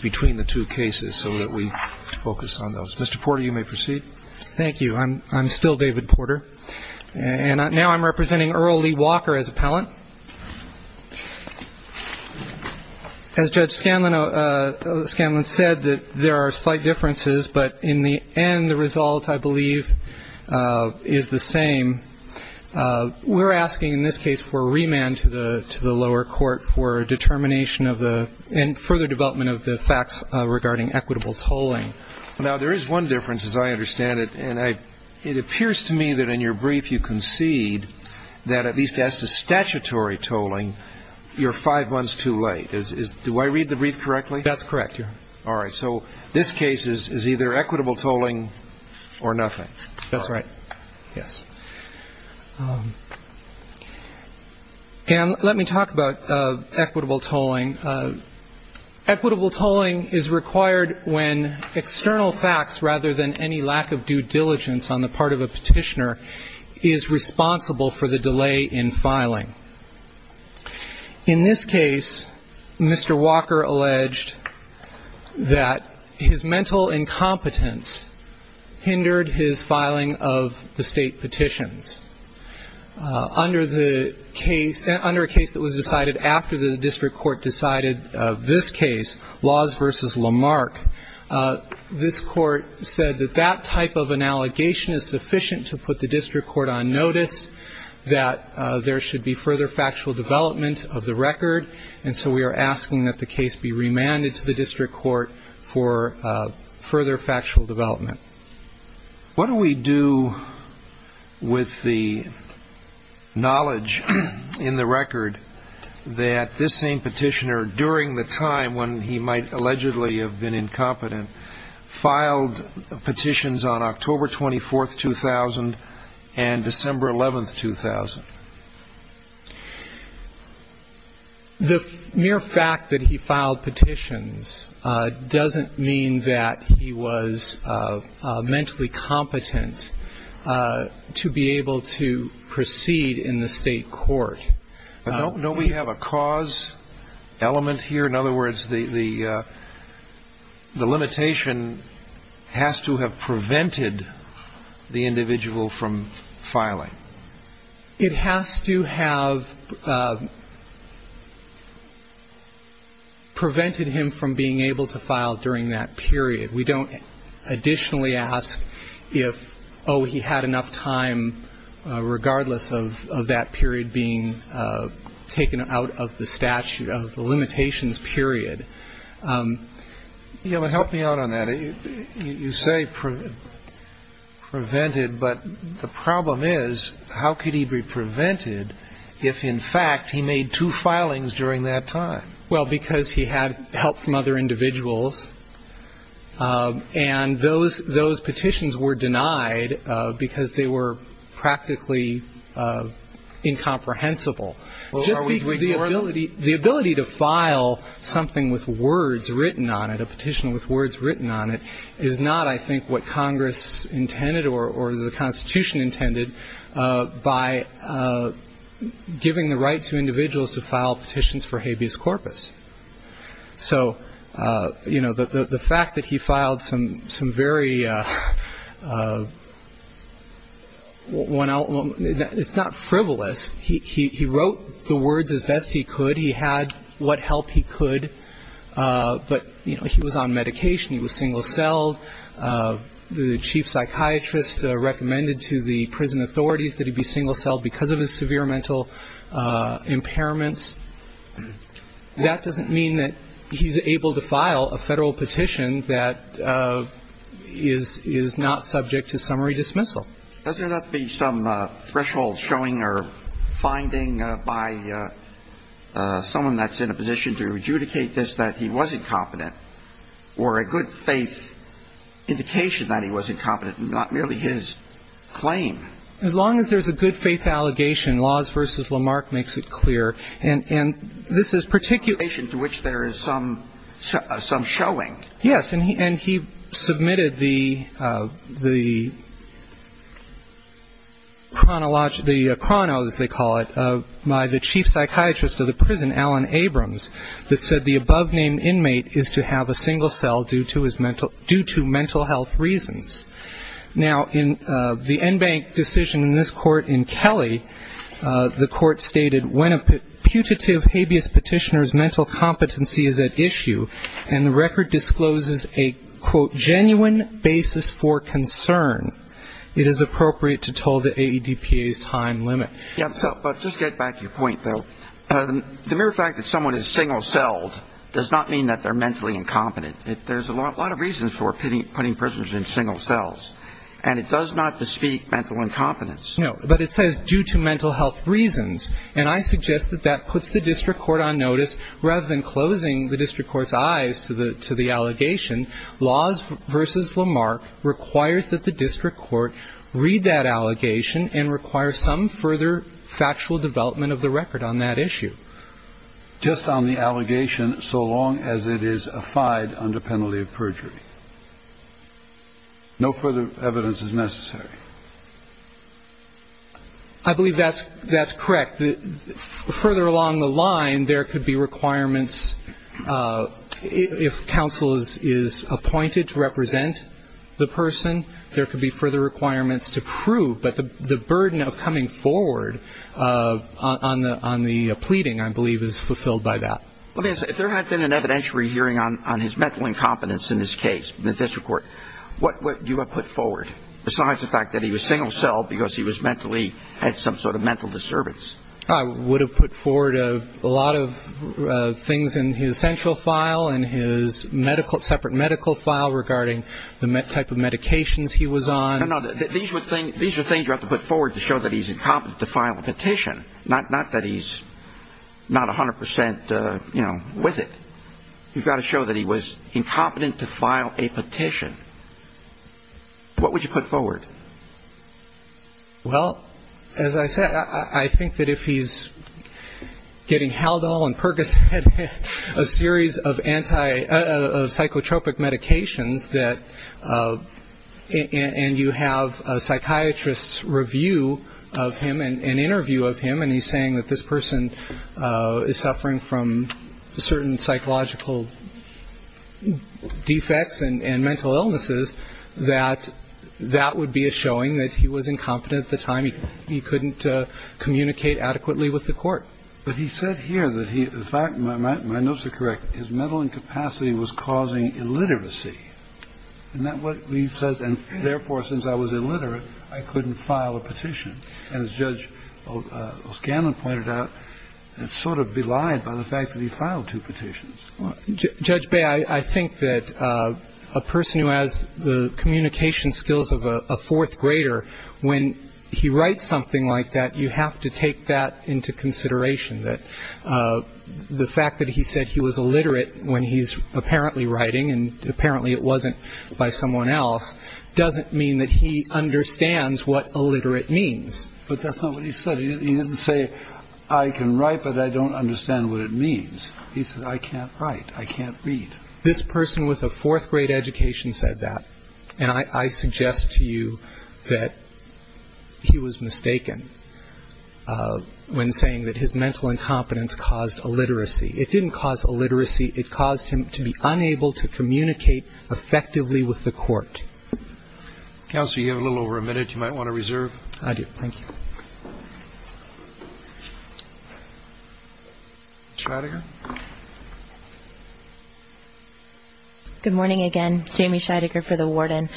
between the two cases so that we focus on those. Mr. Porter, you may proceed. Thank you. I'm still David Porter. And now I'm representing Earl Lee Walker as appellant. As Judge Scanlon said, there are slight differences, but in the end, the result, I believe, is the same. We're asking in this case for remand to the lower court for determination and further development of the facts regarding equitable tolling. Now, there is one difference, as I understand it, and it appears to me that in your brief you concede that at least as to statutory tolling, you're five months too late. Do I read the brief correctly? That's correct, yeah. All right. So this case is either equitable tolling or nothing. That's right. Yes. And let me talk about equitable tolling. Equitable tolling is required when external facts rather than any lack of due diligence on the part of a petitioner is responsible for the delay in filing. In this case, Mr. Walker alleged that his mental incompetence hindered his filing of the state petitions. Under the case that was decided after the district court decided this case, Laws v. Lamarck, this court said that that type of an allegation is sufficient to put the district court on notice, that there should be further factual development of the record, and so we are asking that the case be submitted to the district court for further factual development. What do we do with the knowledge in the record that this same petitioner, during the time when he might allegedly have been incompetent, filed petitions on October 24, 2000, and December 11, 2000? The mere fact that he filed petitions doesn't mean that he was mentally competent to be able to proceed in the state court. I don't know we have a cause element here. In other words, the limitation has to have prevented the individual from filing. It has to have prevented him from being able to file during that period. We don't additionally ask if, oh, he had enough time, regardless of that period being taken out of the statute, of the limitations period. Yeah, but help me out on that. You say prevented, but the problem is that the statute says how could he be prevented if, in fact, he made two filings during that time? Well, because he had help from other individuals, and those petitions were denied because they were practically incomprehensible. The ability to file something with words written on it, a petition with words written on it, is not, I think, what Congress intended or the Constitution intended by giving the right to individuals to file petitions for habeas corpus. So, you know, the fact that he filed some very one out, it's not frivolous. He wrote the words as best he could. He had what help he could. But, you know, he was on the verge of being single-celled. The chief psychiatrist recommended to the prison authorities that he be single-celled because of his severe mental impairments. That doesn't mean that he's able to file a Federal petition that is not subject to summary dismissal. Does there not be some threshold showing or finding by someone that's in a position to adjudicate this that he was incompetent, or a good-faith indication that he was incompetent, and not merely his claim? As long as there's a good-faith allegation, Laws v. Lamarck makes it clear. And this is particular to which there is some showing. Yes, and he submitted the chrono, as they call it, by the chief psychiatrist of the prison, Alan Abrams, that said the above-named inmate is to have a single cell due to mental health reasons. Now, in the Enbank decision in this court in Kelly, the court stated, when a putative habeas petitioner's mental competency is at issue, and the record discloses a, quote, genuine basis for concern, it is appropriate to toll the AEDPA's time limit. Yes, but just get back to your point, though. The mere fact that someone is single-celled does not mean that they're mentally incompetent. There's a lot of reasons for putting prisoners in single cells. And it does not bespeak mental incompetence. No, but it says due to mental health reasons. And I suggest that that puts the district court on notice. Rather than closing the district court's eyes to the allegation, laws versus Lamarck requires that the district court read that allegation and require some further factual development of the record on that issue. Just on the allegation, so long as it is affide under penalty of perjury. No further evidence is necessary. I believe that's correct. Further along the line, there could be requirements if counsel is appointed to represent the person, there could be further requirements to prove. But the burden of coming forward on the pleading, I believe, is fulfilled by that. Let me ask you, if there had been an evidentiary hearing on his mental incompetence in this case, the district court, what would you have put forward, besides the fact that he was single-celled because he had some sort of mental disturbance? I would have put forward a lot of things in his central file and his separate medical file regarding the type of medications he was on. These are things you have to put forward to show that he's incompetent to file a petition. Not that he's not 100 percent, you know, with it. You've got to show that he was incompetent to file a petition. What would you put forward? Well, as I said, I think that if he's getting Haldol and Percocet, a series of psychotropic medications, and you have a psychiatrist's review of him and interview of him, and he's saying that this person is suffering from certain psychological defects and mental illnesses, that that would be a showing that he was incompetent at the time. He couldn't communicate adequately with the court. But he said here that he – in fact, my notes are correct – his mental incapacity was causing illiteracy. Isn't that what he says? And therefore, since I was illiterate, I couldn't file a petition. And as Judge O'Scanlan pointed out, it's sort of belied by the fact that he filed two petitions. Judge Bay, I think that a person who has the communication skills of a fourth grader, when he writes something like that, you have to take that into consideration, that the fact that he said he was illiterate when he's apparently writing, and apparently it wasn't by someone else, doesn't mean that he understands what illiterate means. But that's not what he said. He didn't say, I can write, but I don't understand what it means. He said, I can't write. I can't read. This person with a fourth-grade education said that. And I suggest to you that he was mistaken when saying that his mental incompetence caused illiteracy. It didn't cause illiteracy. It caused him to be unable to communicate effectively with the court. Counsel, you have a little over a minute. You might want to reserve. I do. Thank you. Scheidegger. Good morning again. Jamie Scheidegger for the Warden.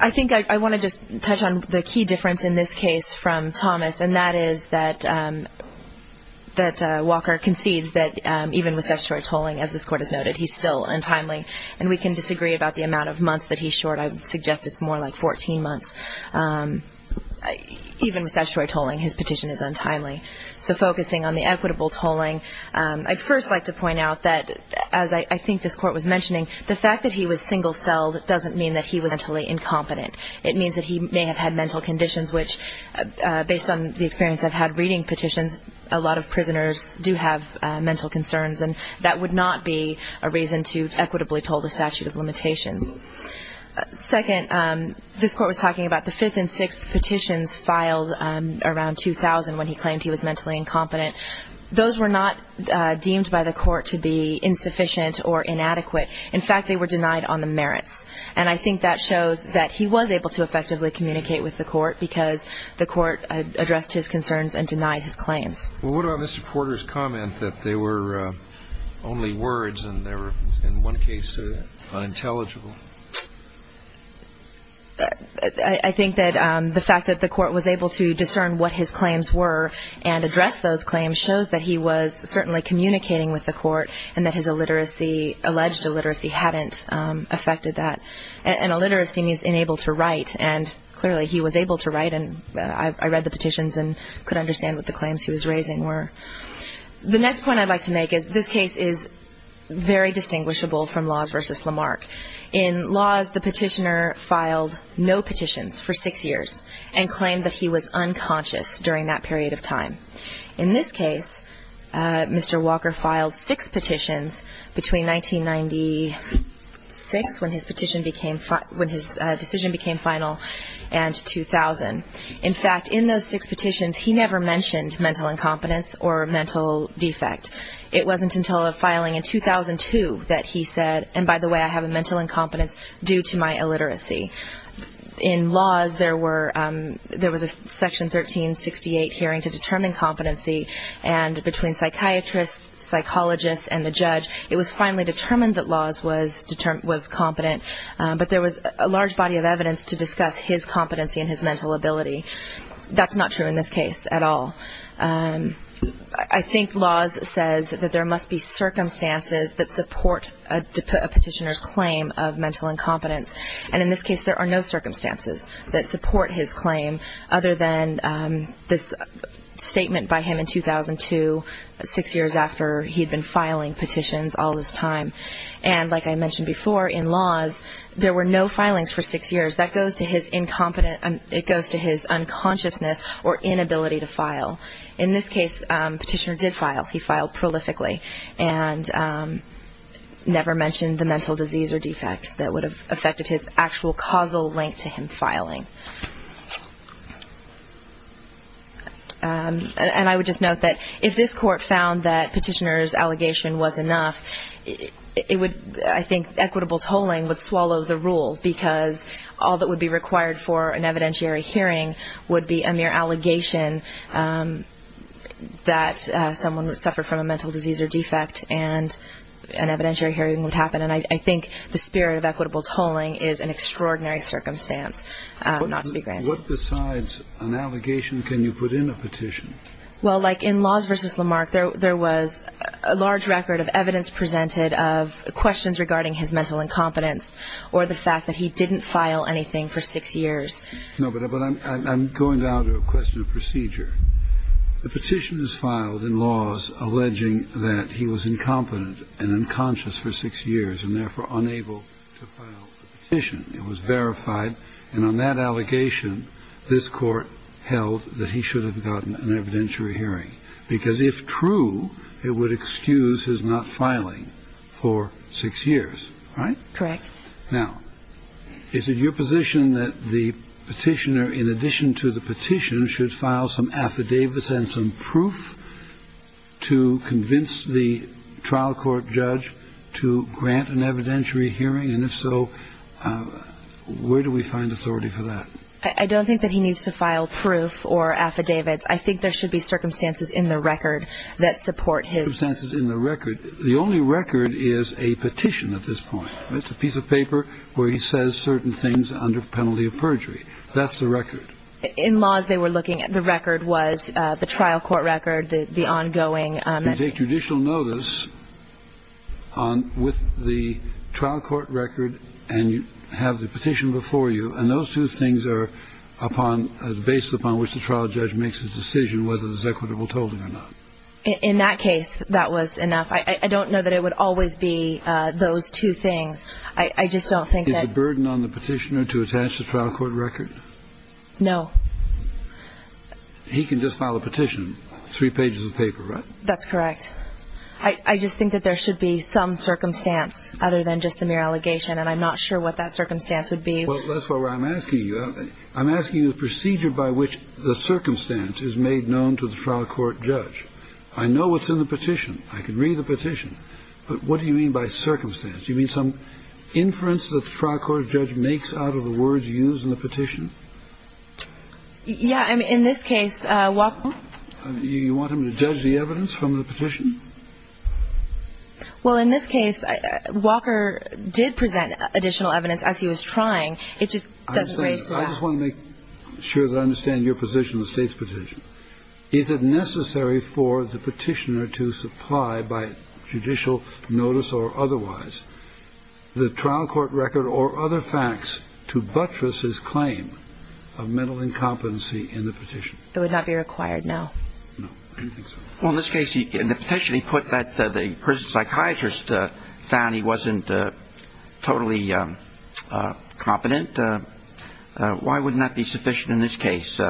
I think I want to just touch on the key difference in this case from Thomas, and that is that Walker concedes that even with such short tolling, as this Court has noted, he's still untimely, and we can disagree about the amount of months that he's short. I would suggest it's more like 14 months. Even with statutory tolling, his petition is untimely. So focusing on the equitable tolling, I'd first like to point out that, as I think this Court was mentioning, the fact that he was single-celled doesn't mean that he was mentally incompetent. It means that he may have had mental conditions which, based on the experience I've had reading petitions, a lot of prisoners do have mental concerns, and that would not be a reason to equitably toll the statute of limitations. Second, this Court was talking about the fifth and sixth petitions filed around 2000 when he claimed he was mentally incompetent. Those were not deemed by the Court to be insufficient or inadequate. In fact, they were denied on the merits, and I think that shows that he was able to effectively communicate with the Court because the Court addressed his concerns and denied his claims. Well, what about Mr. Porter's comment that they were only words and they were, in one case, unintelligible? I think that the fact that the Court was able to discern what his claims were and address those claims shows that he was certainly communicating with the Court and that his alleged illiteracy hadn't affected that. And illiteracy means unable to write, and clearly he was able to write, and I read the petitions and could understand what the claims he was raising were. The next point I'd like to make is this case is very distinguishable from Laws v. Lamarck. In Laws, the petitioner filed no petitions for six years and claimed that he was unconscious during that period of time. In this case, Mr. Walker filed six petitions between 1996, when his decision became final, and 2000. In fact, in those six petitions, he never mentioned mental incompetence or mental defect. It wasn't until a filing in 2002 that he said, and by the way, I have a mental incompetence due to my illiteracy. In Laws, there was a Section 1368 hearing to determine competency, and between psychiatrists, psychologists, and the judge, it was finally determined that Laws was competent, but there was a large body of evidence to discuss his competency and his mental ability. That's not true in this case at all. I think Laws says that there must be circumstances that support a petitioner's claim of mental incompetence, and in this case, there are no circumstances that support his claim other than this statement by him in 2002, six years after he'd been filing petitions all this time. And like I mentioned before, in Laws, there were no filings for six years. That goes to his unconsciousness or inability to file. In this case, petitioner did file. He filed prolifically and never mentioned the mental disease or defect that would have affected his actual causal link to him filing. And I would just note that if this court found that petitioner's allegation was enough, I think equitable tolling would swallow the rule because all that would be required for an evidentiary hearing would be a mere allegation that someone suffered from a mental disease or defect and an evidentiary hearing would happen. And I think the spirit of equitable tolling is an extraordinary circumstance not to be granted. What besides an allegation can you put in a petition? Well, like in Laws v. Lamarck, there was a large record of evidence presented of questions regarding his mental incompetence or the fact that he didn't file anything for six years. No, but I'm going down to a question of procedure. The petition is filed in Laws alleging that he was incompetent and unconscious for six years and therefore unable to file the petition. It was verified. And on that allegation, this Court held that he should have gotten an evidentiary hearing because if true, it would excuse his not filing for six years, right? Correct. Now, is it your position that the petitioner, in addition to the petition, should file some affidavits and some proof to convince the trial court judge to grant an evidentiary hearing? And if so, where do we find authority for that? I don't think that he needs to file proof or affidavits. I think there should be circumstances in the record that support his... Circumstances in the record. The only record is a petition at this point. It's a piece of paper where he says certain things under penalty of perjury. That's the record. In Laws, they were looking at the record was the trial court record, the ongoing... You take judicial notice with the trial court record and you have the petition before you, and those two things are based upon which the trial judge makes a decision whether there's equitable tolling or not. In that case, that was enough. I don't know that it would always be those two things. I just don't think that... Is the burden on the petitioner to attach the trial court record? No. He can just file a petition, three pages of paper, right? That's correct. I just think that there should be some circumstance other than just the mere allegation, and I'm not sure what that circumstance would be. Well, that's what I'm asking you. I'm asking you the procedure by which the circumstance is made known to the trial court judge. I know what's in the petition. I can read the petition, but what do you mean by circumstance? Do you mean some inference that the trial court judge makes out of the words used in the petition? Yeah. I mean, in this case, Walker... You want him to judge the evidence from the petition? Well, in this case, Walker did present additional evidence as he was trying. It just doesn't raise it up. I just want to make sure that I understand your position on the State's petition. Is it necessary for the petitioner to supply by judicial notice or otherwise the trial court record or other facts to buttress his claim of mental incompetency in the petition? It would not be required, no. No. I don't think so. Well, in this case, in the petition, he put that the prison psychiatrist found he wasn't totally competent. Why wouldn't that be sufficient in this case?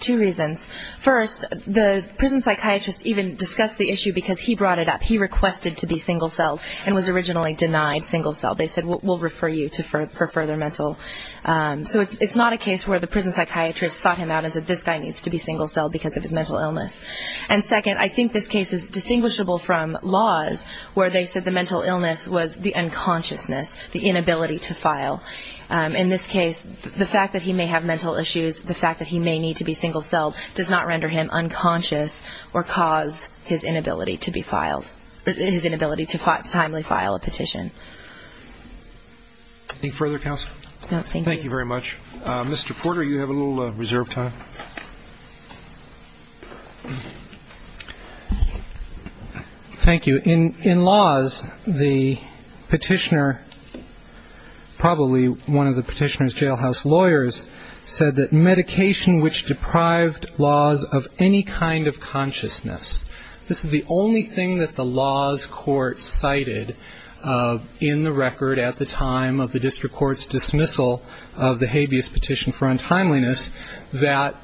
Two reasons. First, the prison psychiatrist even discussed the issue because he brought it up. He requested to be single-celled and was originally denied single-celled. They said, we'll refer you to further mental. So it's not a case where the prison psychiatrist sought him out and said, this guy needs to be single-celled because of his mental illness. And second, I think this case is distinguishable from laws where they said the mental illness was the unconsciousness, the inability to file. In this case, the fact that he may have mental issues, the fact that he may need to be single-celled, does not render him unconscious or cause his inability to be filed, his inability to timely file a petition. Any further counsel? No, thank you. Thank you very much. Mr. Porter, you have a little reserve time. Thank you. In laws, the petitioner, probably one of the petitioner's jailhouse lawyers, said that medication which deprived laws of any kind of consciousness, this is the only thing that the laws court cited in the record at the time of the district court's dismissal of the habeas petition for untimeliness that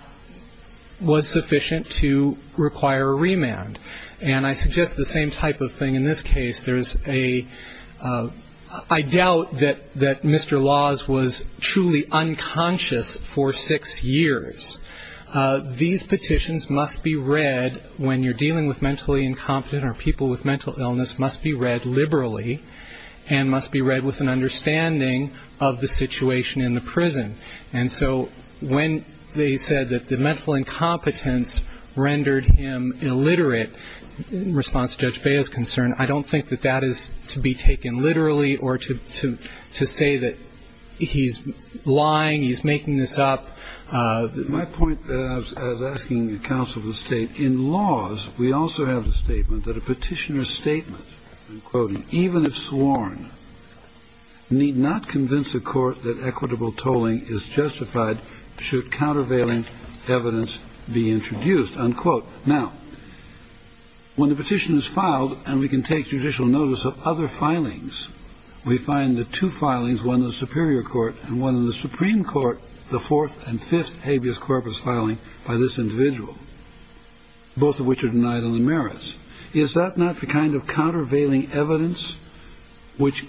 was sufficient to require a remand. And I suggest the same type of thing in this case. I doubt that Mr. Laws was truly unconscious for six years. These petitions must be read when you're dealing with mentally incompetent or people with mental illness must be read liberally and must be read with an understanding of the situation in the prison. And so when they said that the mental incompetence rendered him illiterate, in response to Judge Bea's concern, I don't think that that is to be taken literally or to say that he's lying, he's making this up. My point, as I was asking the counsel of the State, in laws we also have the statement that a petitioner's statement, even if sworn, need not convince the court that equitable tolling is justified should countervailing evidence be introduced, unquote. Now, when the petition is filed and we can take judicial notice of other filings, we find the two filings, one in the Superior Court and one in the Supreme Court, the fourth and fifth habeas corpus filing by this individual, both of which are denied on the merits. Is that not the kind of countervailing evidence which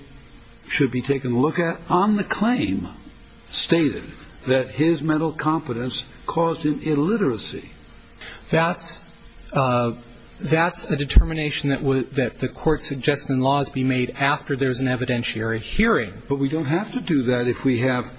should be taken a look at? On the claim stated that his mental competence caused him illiteracy. That's a determination that the court suggests in laws be made after there's an evidentiary hearing. But we don't have to do that if we have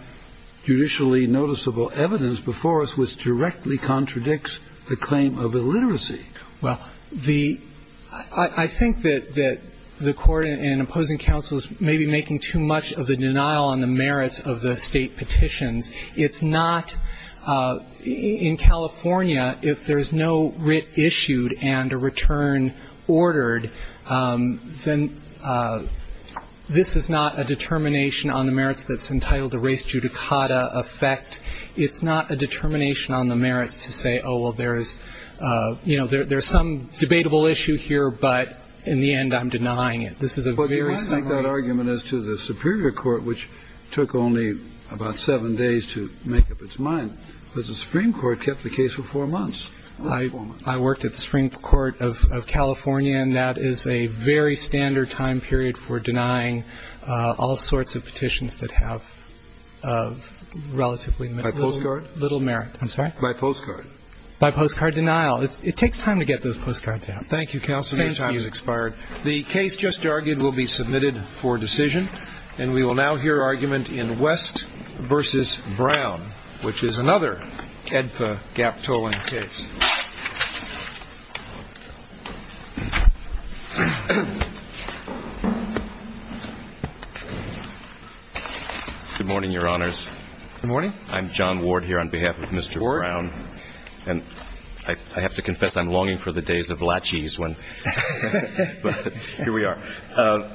judicially noticeable evidence before us which directly contradicts the claim of illiteracy. Well, the – I think that the court in opposing counsel is maybe making too much of a denial on the merits of the State petitions. It's not – in California, if there's no writ issued and a return ordered, then this is not a determination on the merits that's entitled to race judicata effect. It's not a determination on the merits to say, oh, well, there is – you know, there's some debatable issue here, but in the end, I'm denying it. This is a very simple argument. But you might make that argument as to the Superior Court, which took only about seven days to make up its mind, because the Supreme Court kept the case for four months. I worked at the Supreme Court of California, and that is a very standard time period for denying all sorts of petitions that have relatively little merit. By postcard? I'm sorry? By postcard. By postcard denial. It takes time to get those postcards out. Thank you, counsel. Your time has expired. Thank you. The case just argued will be submitted for decision, and we will now hear argument in West v. Brown, which is another AEDPA gap tolling case. Good morning, Your Honors. Good morning. I'm John Ward here on behalf of Mr. Brown. Ward. And I have to confess, I'm longing for the days of lachies when – but here we are.